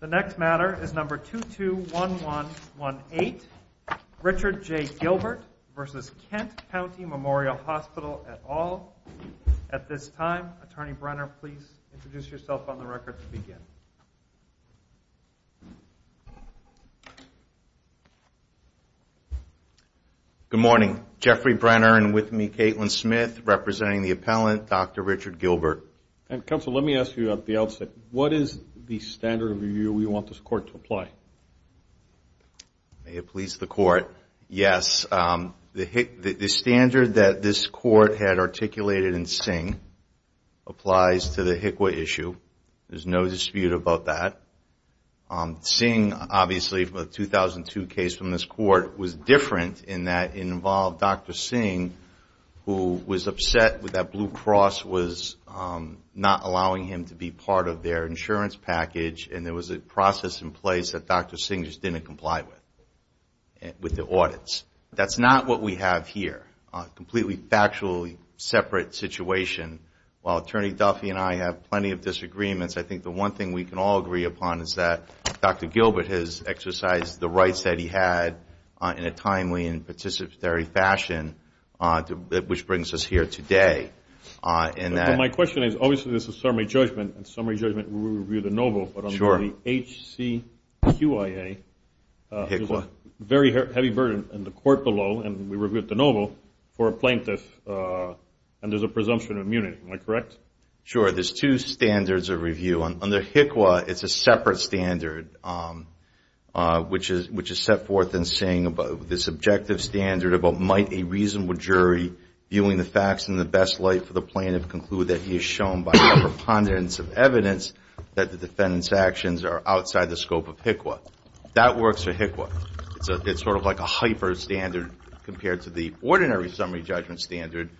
The next matter is number 221118, Richard J. Gilbert v. Kent County Memorial Hospital et al. At this time, Attorney Brenner, please introduce yourself on the record to begin. Good morning. Jeffrey Brenner and with me, Katelyn Smith, representing the appellant, Dr. Richard Gilbert. Counsel, let me ask you at the outset, what is the standard of review we want this court to apply? May it please the court, yes. The standard that this court had articulated in Singh applies to the HCWA issue. There's no dispute about that. Singh, obviously, the 2002 case from this court was different in that it involved Dr. Singh, who was upset that Blue Cross was not allowing him to be part of their insurance package, and there was a process in place that Dr. Singh just didn't comply with, with the audits. That's not what we have here, a completely factually separate situation. While Attorney Duffy and I have plenty of disagreements, I think the one thing we can all agree upon is that Dr. Gilbert has exercised the rights that he had in a timely and participatory fashion. Which brings us here today. My question is, obviously, this is a summary judgment, and summary judgment, we review the NOVO, but under the HCQIA, there's a very heavy burden in the court below, and we review it at the NOVO, for a plaintiff, and there's a presumption of immunity. Am I correct? Sure. There's two standards of review. Under HCWA, it's a separate standard, which is set forth in Singh, this objective standard about, might a reasonable jury, viewing the facts in the best light for the plaintiff, conclude that he is shown by the preponderance of evidence that the defendant's actions are outside the scope of HCWA. That works for HCWA. It's sort of like a hyper-standard compared to the ordinary summary judgment standard,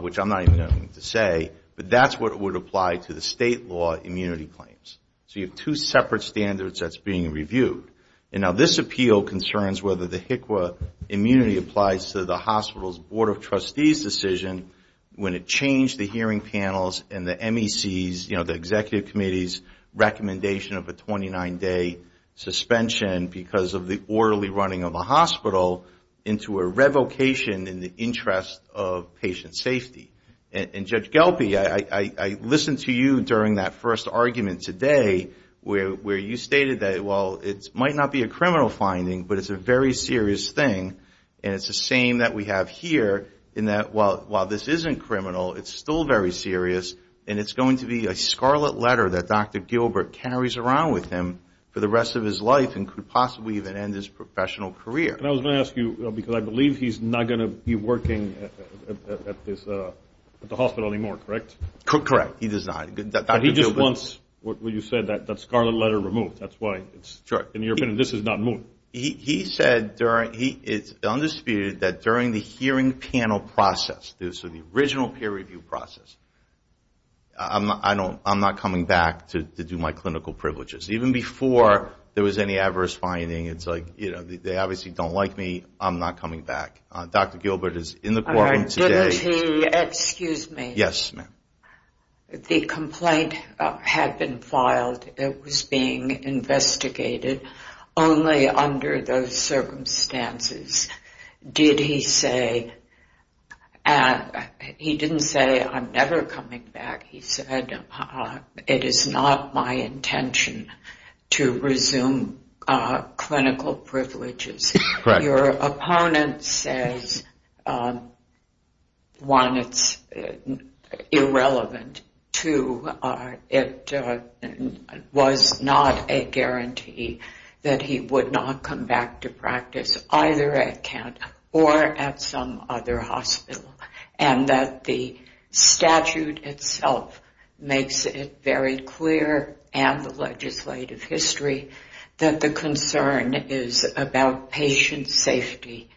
which I'm not even going to say, but that's what would apply to the state law immunity claims. So you have two separate standards that's being reviewed. And now this appeal concerns whether the HCWA immunity applies to the hospital's Board of Trustees decision when it changed the hearing panels and the MECs, you know, the Executive Committee's recommendation of a 29-day suspension because of the orderly running of the hospital into a revocation in the interest of patient safety. And Judge Gelpi, I listened to you during that first argument today where you stated that, well, it might not be a criminal finding, but it's a very serious thing. And it's the same that we have here in that while this isn't criminal, it's still very serious. And it's going to be a scarlet letter that Dr. Gilbert carries around with him for the rest of his life and could possibly even end his professional career. And I was going to ask you, because I believe he's not going to be working at the hospital anymore, correct? Correct. He does not. But he just wants what you said, that scarlet letter removed. That's why it's, in your opinion, this is not moved. He said it's undisputed that during the hearing panel process, so the original peer review process, I'm not coming back to do my clinical privileges. Even before there was any adverse finding, it's like, you know, they obviously don't like me. I'm not coming back. Dr. Gilbert is in the courtroom today. Didn't he? Excuse me. Yes, ma'am. The complaint had been filed. It was being investigated. Only under those circumstances did he say, he didn't say, I'm never coming back. He said, it is not my intention to resume clinical privileges. Your opponent says, one, it's irrelevant. Two, it was not a guarantee that he would not come back to practice, either at Kent or at some other hospital. And that the statute itself makes it very clear, and the legislative history, that the concern is about patient safety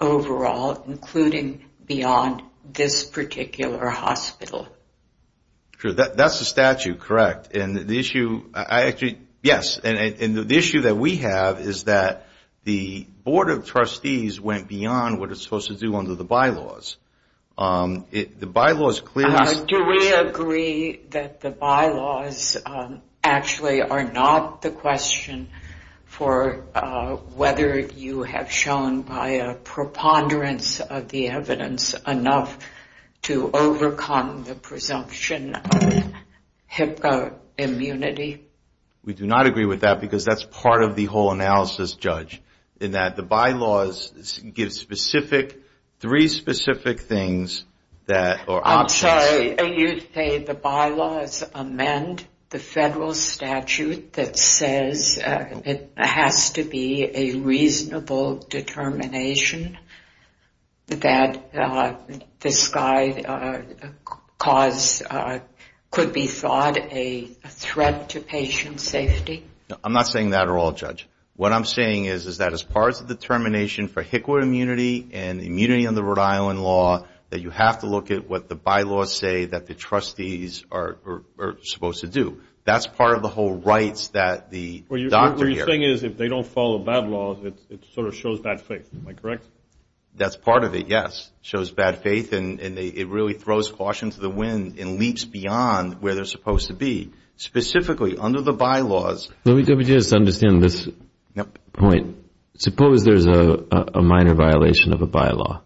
overall, including beyond this particular hospital. Sure. That's the statute, correct. And the issue, yes, and the issue that we have is that the board of trustees went beyond what it's supposed to do under the bylaws. The bylaws clearly... Do we agree that the bylaws actually are not the question for whether you have shown, by a preponderance of the evidence, enough to overcome the presumption of HIPAA immunity? We do not agree with that, because that's part of the whole analysis, Judge. In that the bylaws give specific, three specific things that... I'm sorry, you say the bylaws amend the federal statute that says it has to be a reasonable determination that this guy could be thought a threat to patient safety? I'm not saying that at all, Judge. What I'm saying is that as part of the determination for HIPAA immunity and immunity under the Rhode Island law, that you have to look at what the bylaws say that the trustees are supposed to do. That's part of the whole rights that the doctor... What you're saying is if they don't follow the bad laws, it sort of shows bad faith. Am I correct? That's part of it, yes. It shows bad faith, and it really throws caution to the wind and leaps beyond where they're supposed to be. Specifically, under the bylaws... Let me just understand this point. Suppose there's a minor violation of a bylaw.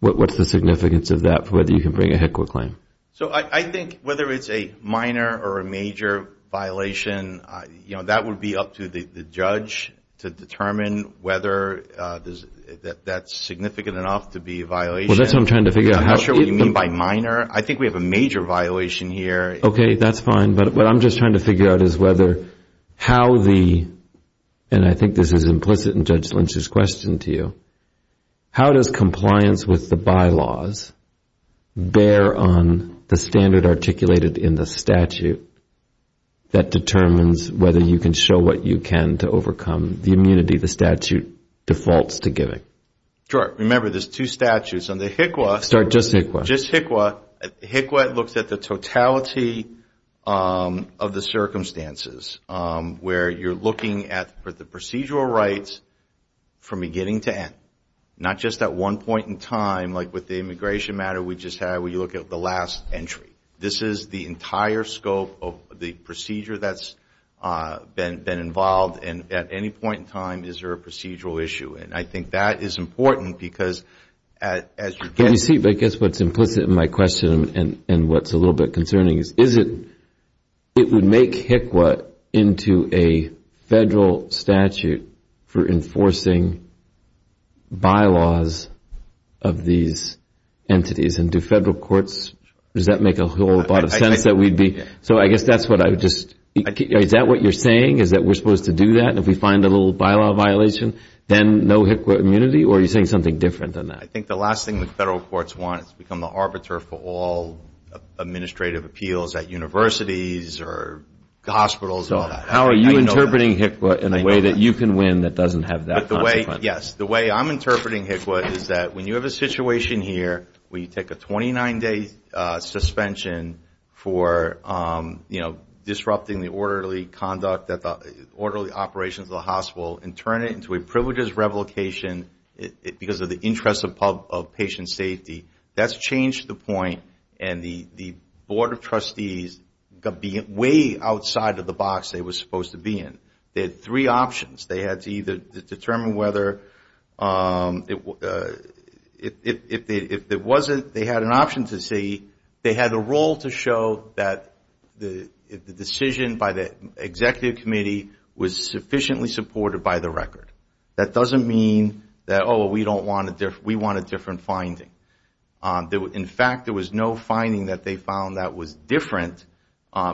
What's the significance of that for whether you can bring a HIPAA claim? I think whether it's a minor or a major violation, that would be up to the judge to determine whether that's significant enough to be a violation. Well, that's what I'm trying to figure out. I'm not sure what you mean by minor. I think we have a major violation here. That's fine. But what I'm just trying to figure out is whether how the... And I think this is implicit in Judge Lynch's question to you. How does compliance with the bylaws bear on the standard articulated in the statute that determines whether you can show what you can to overcome the immunity the statute defaults to giving? Sure. Remember, there's two statutes. On the HIPAA... Just HIPAA. Just HIPAA. HIPAA looks at the totality of the circumstances where you're looking at the procedural rights from beginning to end, not just at one point in time like with the immigration matter we just had where you look at the last entry. This is the entire scope of the procedure that's been involved. And at any point in time, is there a procedural issue? And I think that is important because as you get... I guess what's implicit in my question and what's a little bit concerning is is it... It would make HIPAA into a federal statute for enforcing bylaws of these entities. And do federal courts... Does that make a whole lot of sense that we'd be... So I guess that's what I would just... Is that what you're saying is that we're supposed to do that? And if we find a little bylaw violation, then no HIPAA immunity? Or are you saying something different than that? I think the last thing the federal courts want is to become the arbiter for all administrative appeals at universities or hospitals and all that. How are you interpreting HIPAA in a way that you can win that doesn't have that consequence? Yes, the way I'm interpreting HIPAA is that when you have a situation here where you take a 29-day suspension for disrupting the orderly conduct that the orderly operations of the hospital and turn it into a privileged revocation because of the interest of patient safety, that's changed the point. And the board of trustees got way outside of the box they were supposed to be in. They had three options. They had to either determine whether... If it wasn't... They had an option to say... They had a role to show that the decision by the executive committee was sufficiently supported by the record. That doesn't mean that, oh, we want a different finding. In fact, there was no finding that they found that was different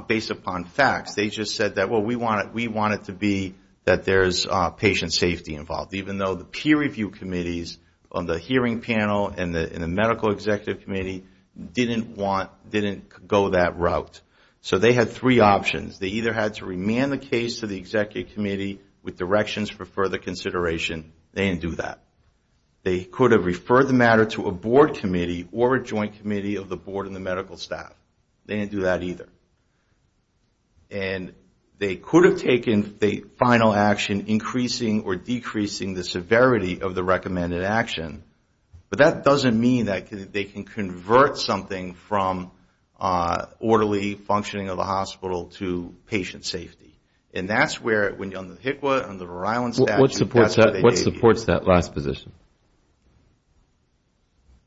based upon facts. They just said that, well, we want it to be that there's patient safety involved, even though the peer review committees on the hearing panel and the medical executive committee didn't go that route. So they had three options. They either had to remand the case to the executive committee with directions for further consideration. They didn't do that. They could have referred the matter to a board committee or a joint committee of the board and the medical staff. They didn't do that either. And they could have taken the final action increasing or decreasing the severity of the recommended action. But that doesn't mean that they can convert something from orderly functioning of the hospital to patient safety. And that's where, on the HICWA, on the Rhode Island statute, that's what they did. What supports that last position?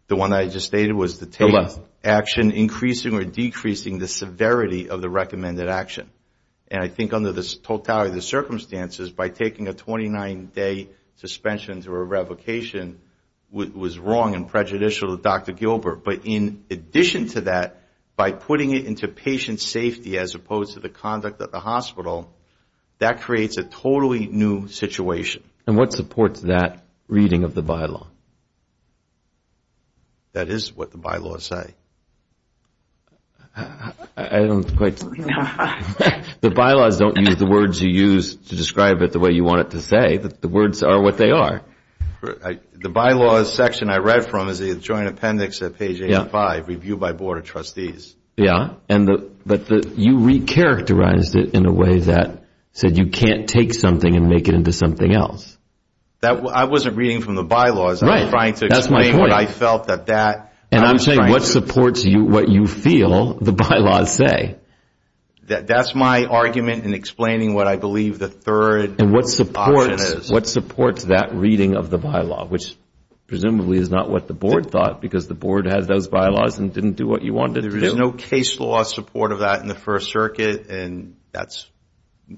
The one I just stated was to take action increasing or decreasing the severity of the recommended action. And I think under the totality of the circumstances, by taking a 29-day suspension through a revocation was wrong and prejudicial to Dr. Gilbert. But in addition to that, by putting it into patient safety as opposed to the conduct at the hospital, that creates a totally new situation. And what supports that reading of the bylaw? That is what the bylaws say. I don't quite... The bylaws don't use the words you use to describe it the way you want it to say. The words are what they are. The bylaws section I read from is the joint appendix at page 85, Review by Board of Trustees. Yeah. But you recharacterized it in a way that said you can't take something and make it into something else. I wasn't reading from the bylaws. I'm trying to explain what I felt that that... And I'm saying what supports what you feel the bylaws say. That's my argument in explaining what I believe the third option is. And what supports that reading of the bylaw, which presumably is not what the board thought, because the board had those bylaws and didn't do what you wanted to do. There's no case law support of that in the First Circuit and that's...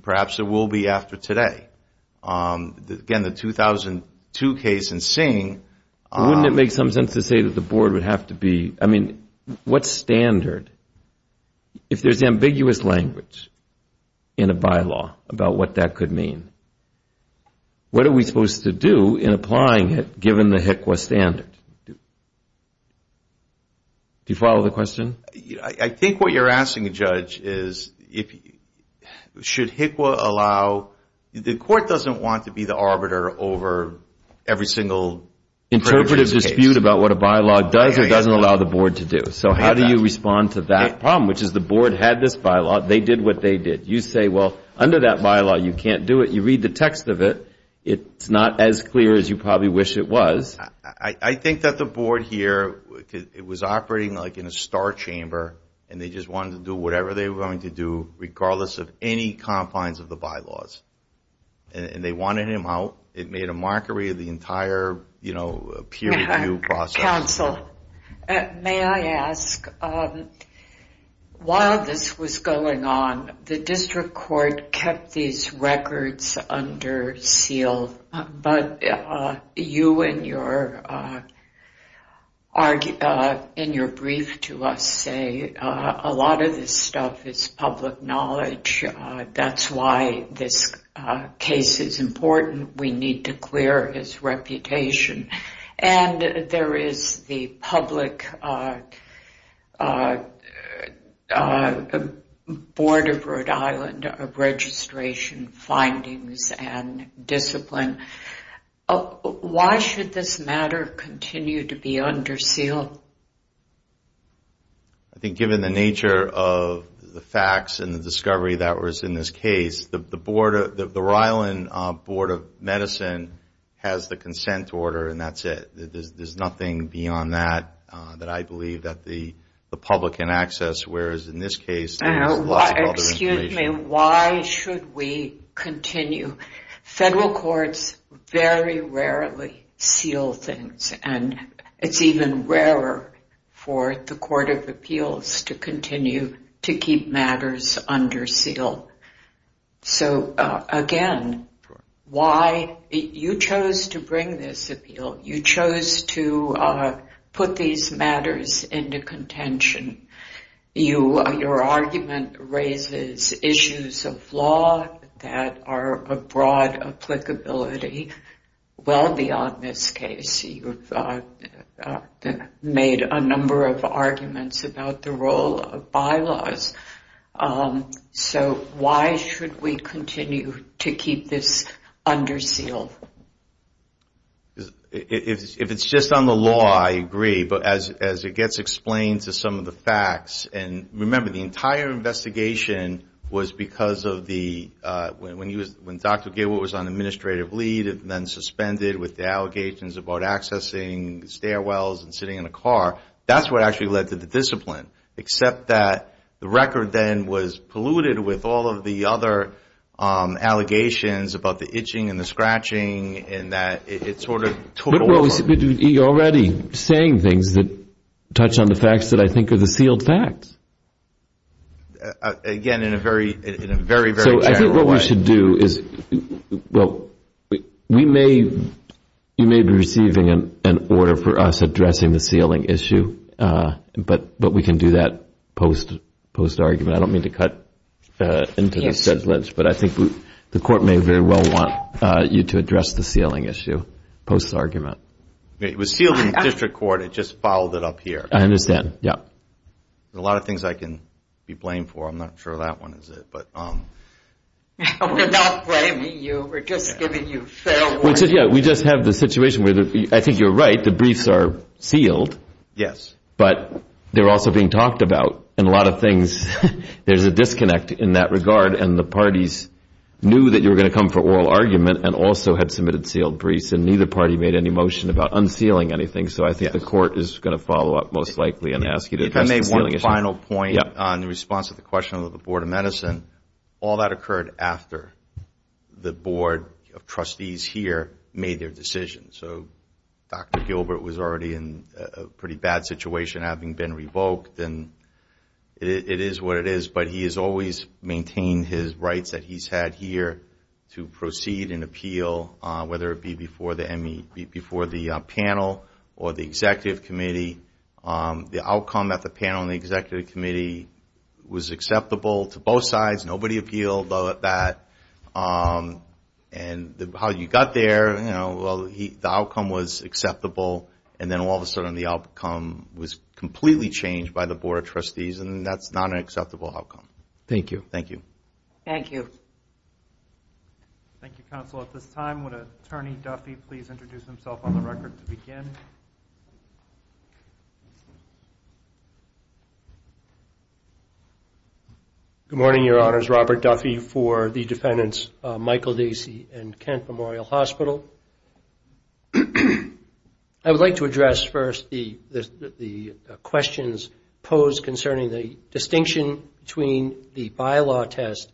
Perhaps there will be after today. Again, the 2002 case in seeing... Wouldn't it make some sense to say that the board would have to be... I mean, what standard... If there's ambiguous language in a bylaw about what that could mean, what are we supposed to do in applying it given the HCWA standard? Do you follow the question? I think what you're asking, Judge, is should HCWA allow... The court doesn't want to be the arbiter over every single... Interpretive dispute about what a bylaw does or doesn't allow the board to do. So how do you respond to that problem, which is the board had this bylaw. They did what they did. You say, well, under that bylaw, you can't do it. You read the text of it. It's not as clear as you probably wish it was. I think that the board here... It was operating like in a star chamber and they just wanted to do whatever they were going to do regardless of any confines of the bylaws. And they wanted him out. It made a mockery of the entire peer review process. Counsel, may I ask... While this was going on, the district court kept these records under seal. But you, in your brief to us, say a lot of this stuff is public knowledge. That's why this case is important. We need to clear his reputation. And there is the public board of Rhode Island of registration findings and discipline. Why should this matter continue to be under seal? I think given the nature of the facts and the discovery that was in this case, the Rhode Island Board of Medicine has the consent order and that's it. There's nothing beyond that that I believe that the public can access. Whereas in this case... Excuse me, why should we continue? Federal courts very rarely seal things. And it's even rarer for the Court of Appeals to continue to keep matters under seal. So again, why... You chose to bring this appeal. You chose to put these matters into contention. Your argument raises issues of law that are of broad applicability. Well beyond this case, you've made a number of arguments about the role of bylaws. So why should we continue to keep this under seal? If it's just on the law, I agree. But as it gets explained to some of the facts, and remember, the entire investigation was because of the... When Dr. Gilbert was on administrative leave and then suspended with the allegations about accessing stairwells and sitting in a car, that's what actually led to the discipline. Except that the record then was polluted with all of the other allegations about the itching and the scratching and that it sort of took over. But you're already saying things that touch on the facts that I think are the sealed facts. Again, in a very, very general way. So I think what we should do is... You may be receiving an order for us addressing the sealing issue, but we can do that post-argument. I don't mean to cut into the sedlitz, but I think the Court may very well want you to address the sealing issue post-argument. It was sealed in the District Court. It just followed it up here. I understand, yeah. There are a lot of things I can be blamed for. I'm not sure that one is it. We're not blaming you. We're just giving you fair warning. We just have the situation where I think you're right. The briefs are sealed. Yes. But they're also being talked about. And a lot of things, there's a disconnect in that regard. And the parties knew that you were going to come for oral argument and also had submitted sealed briefs. And neither party made any motion about unsealing anything. So I think the Court is going to follow up most likely and ask you to address the sealing issue. If I may, one final point on the response to the question of the Board of Medicine. All that occurred after the Board of Trustees here made their decision. So Dr. Gilbert was already in a pretty bad situation having been revoked. And it is what it is. But he has always maintained his rights that he's had here to proceed and appeal, whether it be before the panel or the Executive Committee. The outcome at the panel and the Executive Committee was acceptable to both sides. Nobody appealed that. And how you got there, the outcome was acceptable. And then all of a sudden, the outcome was completely changed by the Board of Trustees. And that's not an acceptable outcome. Thank you. Thank you. Thank you, Counsel. At this time, would Attorney Duffy please introduce himself on the record to begin? Good morning, Your Honors. Robert Duffy for the defendants Michael Dacey and Kent Memorial Hospital. I would like to address first the questions posed and the distinction between the bylaw test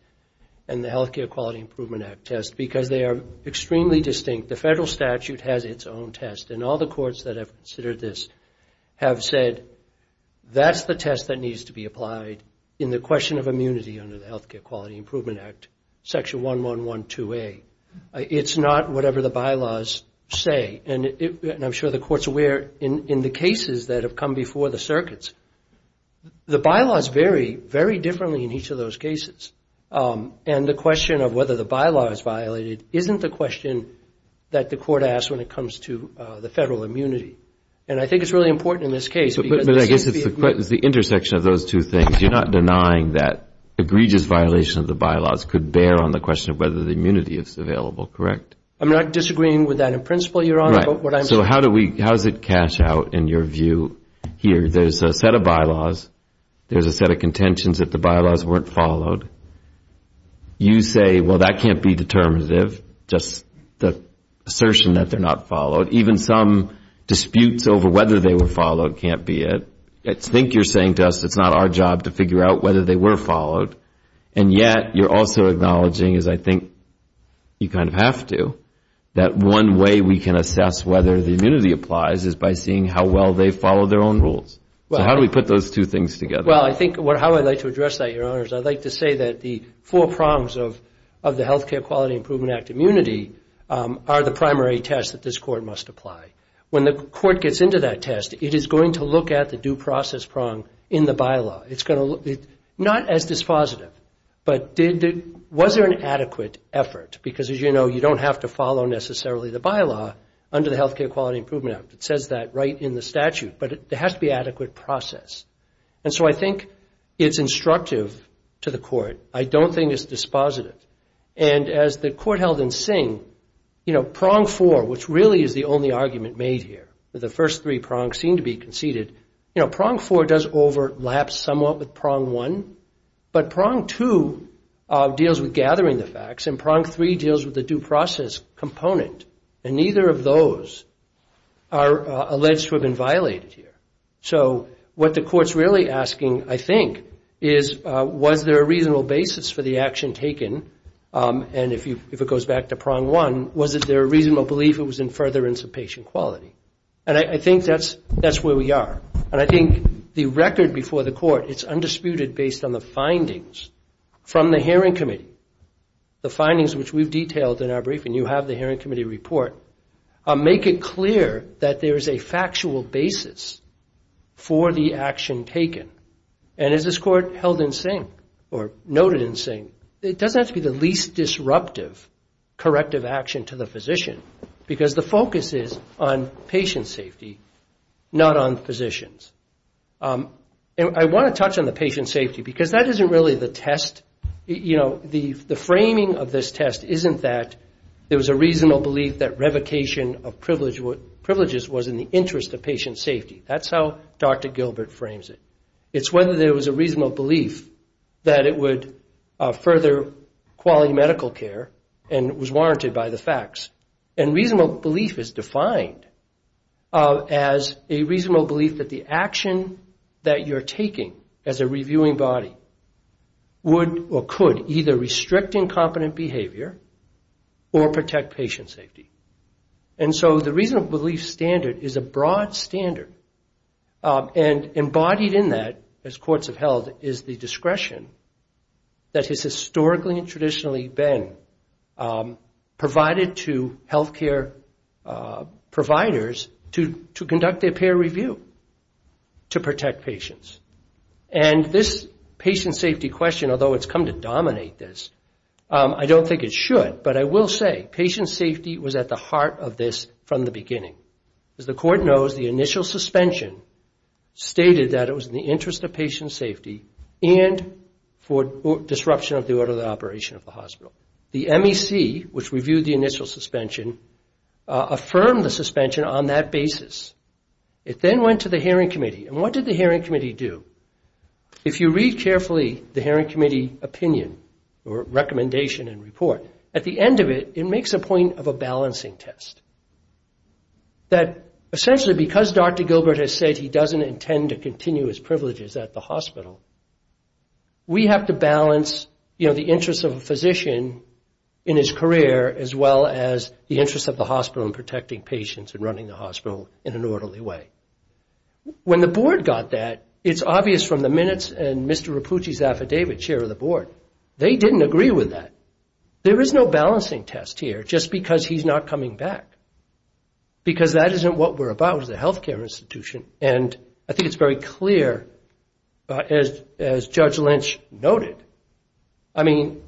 and the Health Care Quality Improvement Act test because they are extremely distinct. The federal statute has its own test. And all the courts that have considered this have said that's the test that needs to be applied in the question of immunity under the Health Care Quality Improvement Act, Section 1112A. It's not whatever the bylaws say. And I'm sure the Court's aware in the cases that have come before the circuits, bylaws vary very differently in each of those cases. And the question of whether the bylaw is violated isn't the question that the Court asks when it comes to the federal immunity. And I think it's really important in this case. But I guess it's the intersection of those two things. You're not denying that egregious violation of the bylaws could bear on the question of whether the immunity is available, correct? I'm not disagreeing with that in principle, Your Honor. So how does it cash out in your view here? There's a set of bylaws. There's a set of contentions that the bylaws weren't followed. You say, well, that can't be determinative, just the assertion that they're not followed. Even some disputes over whether they were followed can't be it. I think you're saying to us it's not our job to figure out whether they were followed. And yet you're also acknowledging, as I think you kind of have to, that one way we can assess whether the immunity applies is by seeing how well they follow their own rules. So how do we put those two things together? Well, I think how I'd like to address that, Your Honors, I'd like to say that the four prongs of the Health Care Quality Improvement Act immunity are the primary test that this Court must apply. When the Court gets into that test, it is going to look at the due process prong in the bylaw. It's going to look, not as dispositive, but was there an adequate effort? Because as you know, you don't have to follow necessarily the bylaw under the Health Care Quality Improvement Act. It says that right in the statute, but there has to be adequate process. And so I think it's instructive to the Court. I don't think it's dispositive. And as the Court held in Singh, prong four, which really is the only argument made here, the first three prongs seem to be conceded, prong four does overlap somewhat with prong one, but prong two deals with gathering the facts, and prong three deals with the due process component. And neither of those are alleged to have been violated here. So what the Court's really asking, I think, is was there a reasonable basis for the action taken? And if it goes back to prong one, was there a reasonable belief it was in further incipation quality? And I think that's where we are. And I think the record before the Court, it's undisputed based on the findings from the hearing committee. The findings which we've detailed in our briefing, you have the hearing committee report, make it clear that there is a factual basis for the action taken. And as this Court held in Singh, or noted in Singh, it doesn't have to be the least disruptive corrective action to the physician, because the focus is on patient safety, not on physicians. And I want to touch on the patient safety because that isn't really the test. You know, the framing of this test isn't that there was a reasonable belief that revocation of privileges was in the interest of patient safety. That's how Dr. Gilbert frames it. It's whether there was a reasonable belief that it would further quality medical care and it was warranted by the facts. And reasonable belief is defined as a reasonable belief that the action that you're taking as a reviewing body would or could either restrict incompetent behavior or protect patient safety. And so the reasonable belief standard is a broad standard. And embodied in that, as courts have held, is the discretion that has historically and traditionally been provided to health care providers to conduct their peer review to protect patients. And this patient safety question, although it's come to dominate this, I don't think it should. But I will say patient safety was at the heart of this from the beginning. As the court knows, the initial suspension stated that it was in the interest of patient safety and for disruption of the order of the operation of the hospital. The MEC, which reviewed the initial suspension, affirmed the suspension on that basis. It then went to the hearing committee. And what did the hearing committee do? If you read carefully the hearing committee opinion or recommendation and report, at the end of it, it makes a point of a balancing test. That essentially because Dr. Gilbert has said he doesn't intend to continue his privileges at the hospital, we have to balance, you know, the interest of a physician in his career as well as the interest of the hospital in protecting patients and running the hospital in an orderly way. When the board got that, it's obvious from the minutes and Mr. Rapucci's affidavit, chair of the board, they didn't agree with that. There is no balancing test here just because he's not coming back. Because that isn't what we're about as a healthcare institution. And I think it's very clear, as Judge Lynch noted, I mean,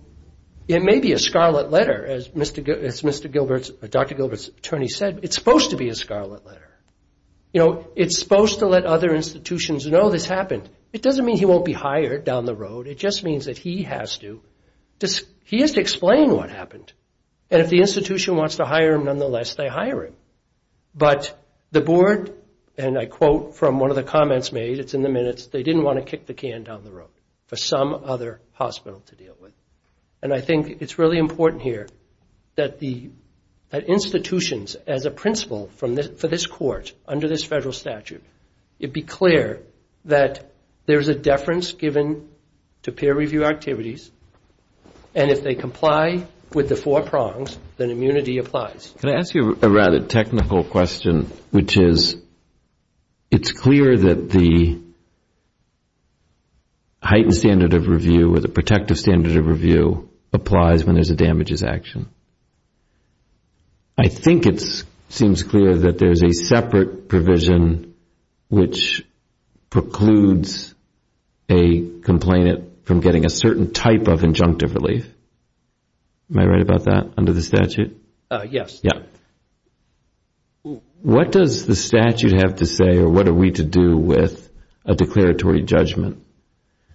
it may be a scarlet letter, as Dr. Gilbert's attorney said, it's supposed to be a scarlet letter. You know, it's supposed to let other institutions know this happened. It doesn't mean he won't be hired down the road. It just means that he has to. He has to explain what happened. And if the institution wants to hire him, nonetheless, they hire him. But the board, and I quote from one of the comments made, it's in the minutes, they didn't want to kick the can down the road for some other hospital to deal with. And I think it's really important here that institutions as a principle for this court, under this federal statute, it be clear that there's a deference given to peer review activities. And if they comply with the four prongs, then immunity applies. Can I ask you a rather technical question, which is it's clear that the heightened standard of review or the protective standard of review applies when there's a damages action. I think it seems clear that there's a separate provision which precludes a complainant from getting a certain type of injunctive relief. Am I right about that under the statute? Yes. What does the statute have to say or what are we to do with a declaratory judgment?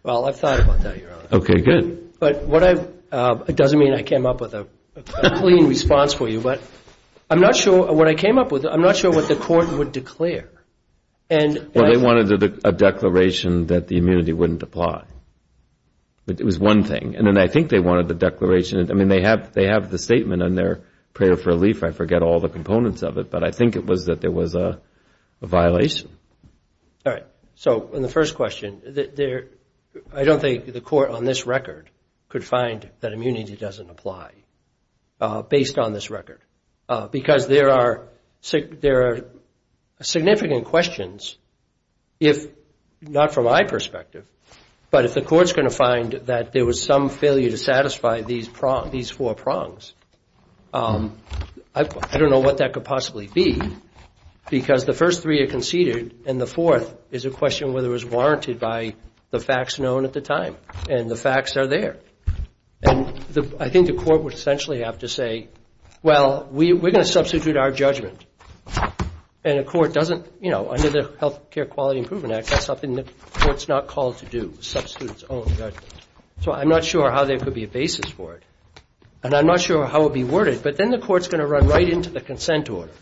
Well, I've thought about that, Your Honor. Okay, good. But what I've... It doesn't mean I came up with a clean response for you, but I'm not sure what I came up with. I'm not sure what the court would declare. Well, they wanted a declaration that the immunity wouldn't apply. It was one thing. And then I think they wanted the declaration. I mean, they have the statement on their prayer for relief. I forget all the components of it, but I think it was that there was a violation. All right. So in the first question, the court could find that immunity doesn't apply based on this record because there are significant questions if, not from my perspective, but if the court's going to find that there was some failure to satisfy these four prongs, I don't know what that could possibly be because the first three are conceded and the fourth is a question whether it was warranted by the facts known at the time or whether it wasn't warranted. And I think the court would essentially have to say, well, we're going to substitute our judgment. And the court doesn't, you know, under the Health Care Quality Improvement Act, that's something the court's not called to do, substitute its own judgment. So I'm not sure how there could be a basis for it. And I'm not sure how it would be worded, but then the court's going to run right into the consent order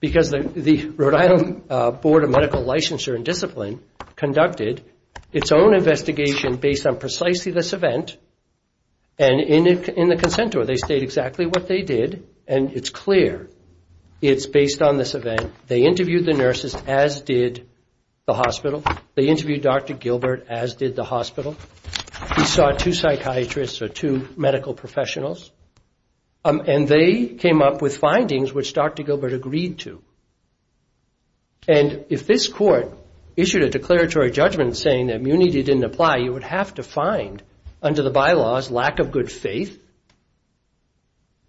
because the Rhode Island Board of Medical Licensure and Discipline conducted its own investigation based on precisely this event. And in the consent order they state exactly what they did and it's clear it's based on this event. They interviewed the nurses as did the hospital. They interviewed Dr. Gilbert as did the hospital. We saw two psychiatrists or two medical professionals. And they came up with findings which Dr. Gilbert agreed to. And if this court issued a declaratory judgment saying that immunity didn't apply, you would have to find under the bylaws lack of good faith.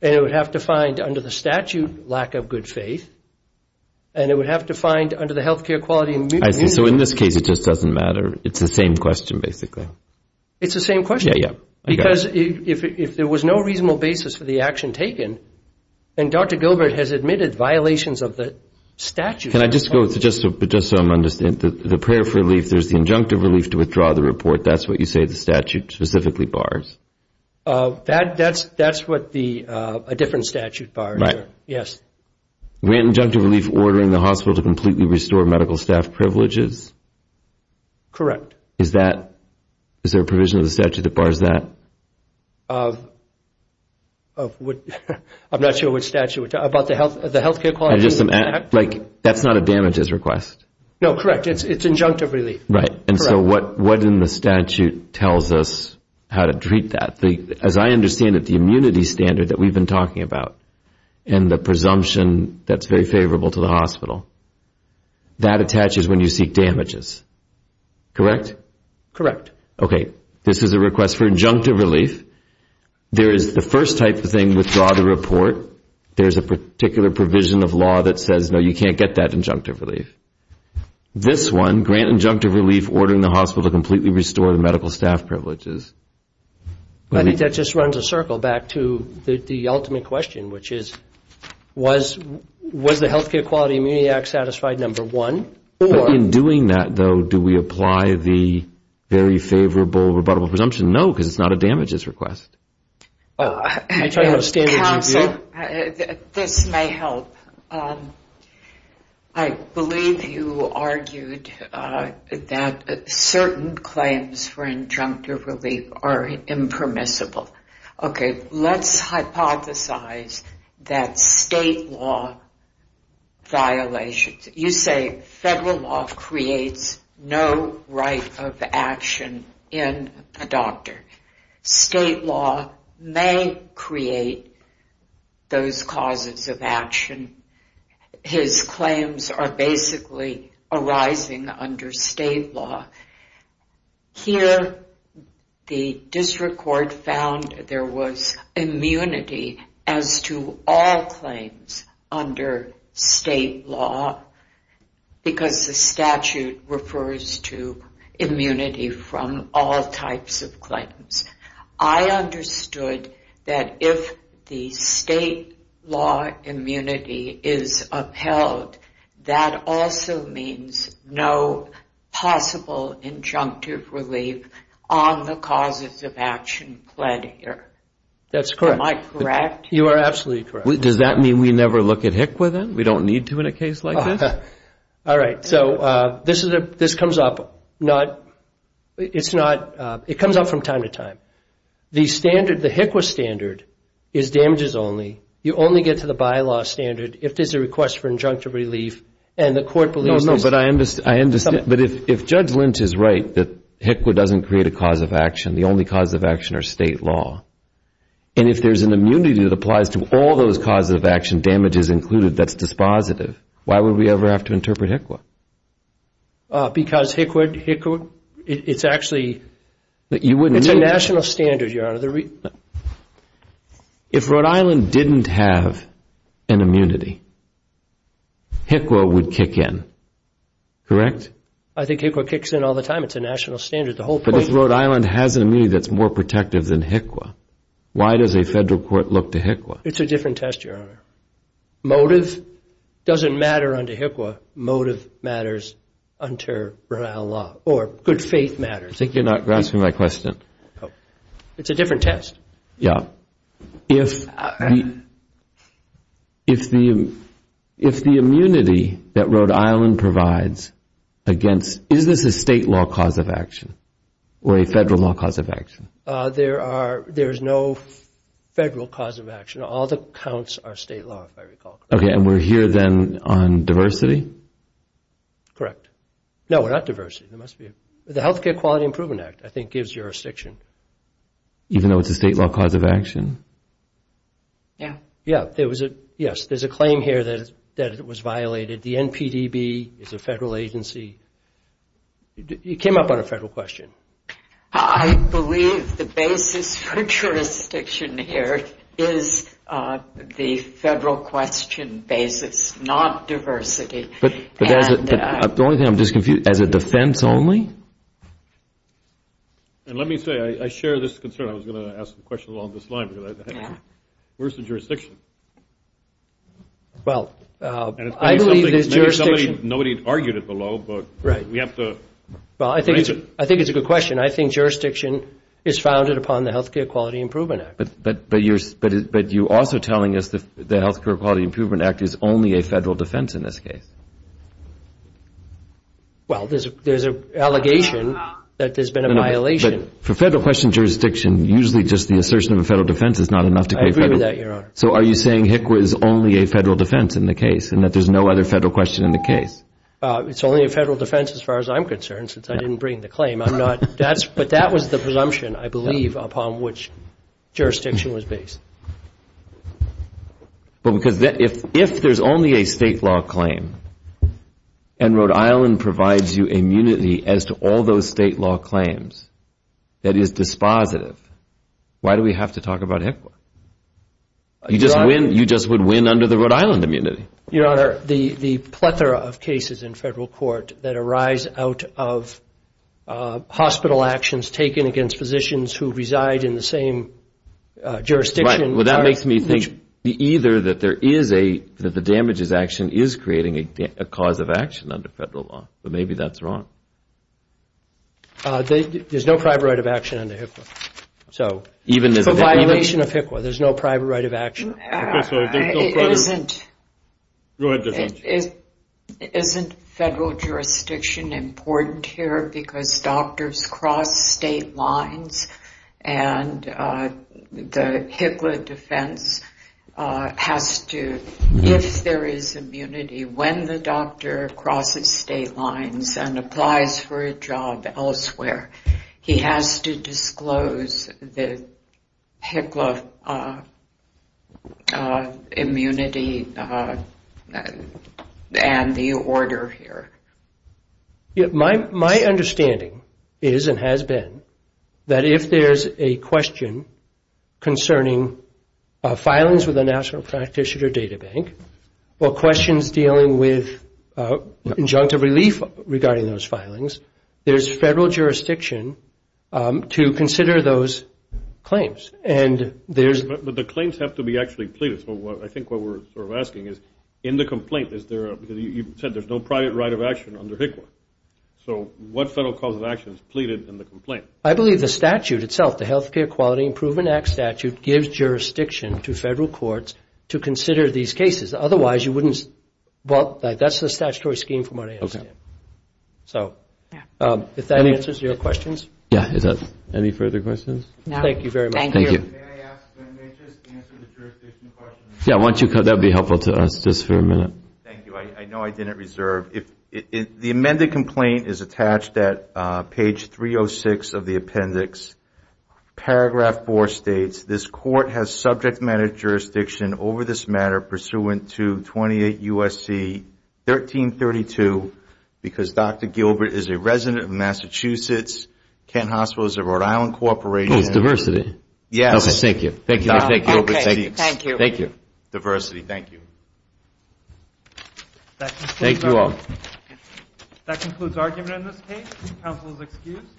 And it would have to find under the statute lack of good faith. And it would have to find under the health care quality immunity. I see. So in this case it just doesn't matter. It's the same question basically. It's the same question. Yeah, yeah. I got it. Because if there was no reasonable basis for the action taken and Dr. Gilbert has admitted violations of the statute. Can I just go, just so I'm understood. The prayer for relief, there's the injunctive relief to withdraw the report. That's what you say the statute specifically bars. That's what a different statute bars. Right. Yes. Injunctive relief ordering the hospital to completely restore medical staff privileges? Correct. Is there a provision of the statute that bars that? I'm not sure what statute. About the health care quality? That's not a damages request. No, correct. It's injunctive relief. Right. And so what in the statute tells us how to treat that? As I understand it, the immunity standard that we've been talking about and the presumption that's very favorable to the hospital, that attaches when you seek damages. Correct? Correct. Okay. This is a request for injunctive relief. There is the first type of thing, withdraw the report. There's a particular provision of law that says, no, you can't get that injunctive relief. This one, grant injunctive relief ordering the hospital to completely restore the medical staff privileges. I think that just runs a circle back to the ultimate question, which is was the Health Care Quality Immunity Act satisfied, number one? In doing that, though, do we apply the very favorable rebuttable presumption? No, because it's not a damages request. Can I try to understand what you do? Counsel, this may help. I believe you argued that certain claims for injunctive relief are impermissible. Okay. Let's hypothesize that state law violations, you say federal law creates no right of action in a doctor. State law may create those causes of action. His claims are basically arising under state law. Here, the district court found there was immunity as to all claims under state law because the statute refers to immunity from all types of claims. I understood that if the state law immunity is upheld, that also means no possible injunctive relief on the causes of action pled here. That's correct. Am I correct? You are absolutely correct. Does that mean we never look at HICWA, then? We don't need to in a case like this? All right. So this comes up from time to time. The HICWA standard is damages only. You only get to the bylaw standard if there's a request for injunctive relief and the court believes there's... No, no, but I understand. But if Judge Lynch is right that HICWA doesn't create a cause of action, the only cause of action are state law, and if there's an immunity that applies to all those causes of action, damages included, that's dispositive, why would we ever have to interpret HICWA? Because HICWA, it's actually... But you wouldn't... It's a national standard, Your Honor. If Rhode Island didn't have an immunity, HICWA would kick in, correct? I think HICWA kicks in all the time. It's a national standard. But if Rhode Island has an immunity that's more protective than HICWA, why does a federal court look to HICWA? It's a different test, Your Honor. Motive doesn't matter under HICWA. Motive matters under Rhode Island law, or good faith matters. I think you're not grasping my question. It's a different test. Yeah. If the immunity that Rhode Island provides against... Is this a state law cause of action or a federal law cause of action? There's no federal cause of action. All the counts are state law, if I recall correctly. Okay, and we're here then on diversity? Correct. No, we're not diversity. The Healthcare Quality Improvement Act, I think, gives jurisdiction. Even though it's a state law cause of action? Yeah. Yeah. Yes, there's a claim here that it was violated. The NPDB is a federal agency. You came up on a federal question. I believe the basis for jurisdiction here is the federal question basis, not diversity. The only thing I'm just confused, as a defense only? And let me say, I share this concern. I was going to ask a question along this line. Where's the jurisdiction? Well, I believe the jurisdiction... Nobody argued it below, but we have to raise it. Well, I think it's a good question. I think jurisdiction is founded upon the Healthcare Quality Improvement Act. But you're also telling us the Healthcare Quality Improvement Act is only a federal defense in this case. Well, there's an allegation that there's been a violation. No, no, but for federal question jurisdiction, usually just the assertion of a federal defense is not enough to... I agree with that, Your Honor. So are you saying HICWA is only a federal defense in the case and that there's no other federal question in the case? It's only a federal defense as far as I'm concerned, since I didn't bring the claim. But that was the presumption, I believe, upon which jurisdiction was based. Well, because if there's only a state law claim and Rhode Island provides you immunity as to all those state law claims, that is dispositive, why do we have to talk about HICWA? You just would win under the Rhode Island immunity. Your Honor, the plethora of cases in federal court that arise out of hospital actions taken against physicians who reside in the same jurisdiction... Right. Well, that makes me think either that there is a... that the damages action is creating a cause of action under federal law. But maybe that's wrong. There's no private right of action under HICWA. So... Even as a... It's a violation of HICWA. There's no private right of action. Okay, so there's no private... It isn't... Go ahead, defense. Isn't federal jurisdiction important here because doctors cross state lines and the HICWA defense has to, if there is immunity when the doctor crosses state lines and applies for a job elsewhere, he has to disclose the HICWA immunity and the order here? My understanding is and has been that if there's a question concerning filings with the National Practitioner Data Bank or questions dealing with injunctive relief regarding those filings, there's federal jurisdiction to consider those claims. And there's... But the claims have to be actually pleaded. So I think what we're sort of asking is in the complaint is there... You said there's no private right of action under HICWA. So what federal cause of action is pleaded in the complaint? I believe the statute itself, the Healthcare Quality Improvement Act statute, gives jurisdiction to federal courts to consider these cases. Otherwise, you wouldn't... Well, that's the statutory scheme from what I understand. Okay. So if that answers your questions? Yeah. Any further questions? No. Thank you very much. Thank you. May I ask... May I just answer the jurisdictional question? Yeah, why don't you... That would be helpful to us just for a minute. Thank you. I know I didn't reserve. The amended complaint is attached at page 306 of the appendix. Paragraph 4 states, this court has subject matter jurisdiction over this matter pursuant to 28 U.S.C. 1332 because Dr. Gilbert is a resident of Massachusetts, Kent Hospital is a Rhode Island corporation... Oh, it's diversity. Yes. Thank you. Thank you. Diversity. Thank you. Thank you all. That concludes argument in this case. Counsel is excused.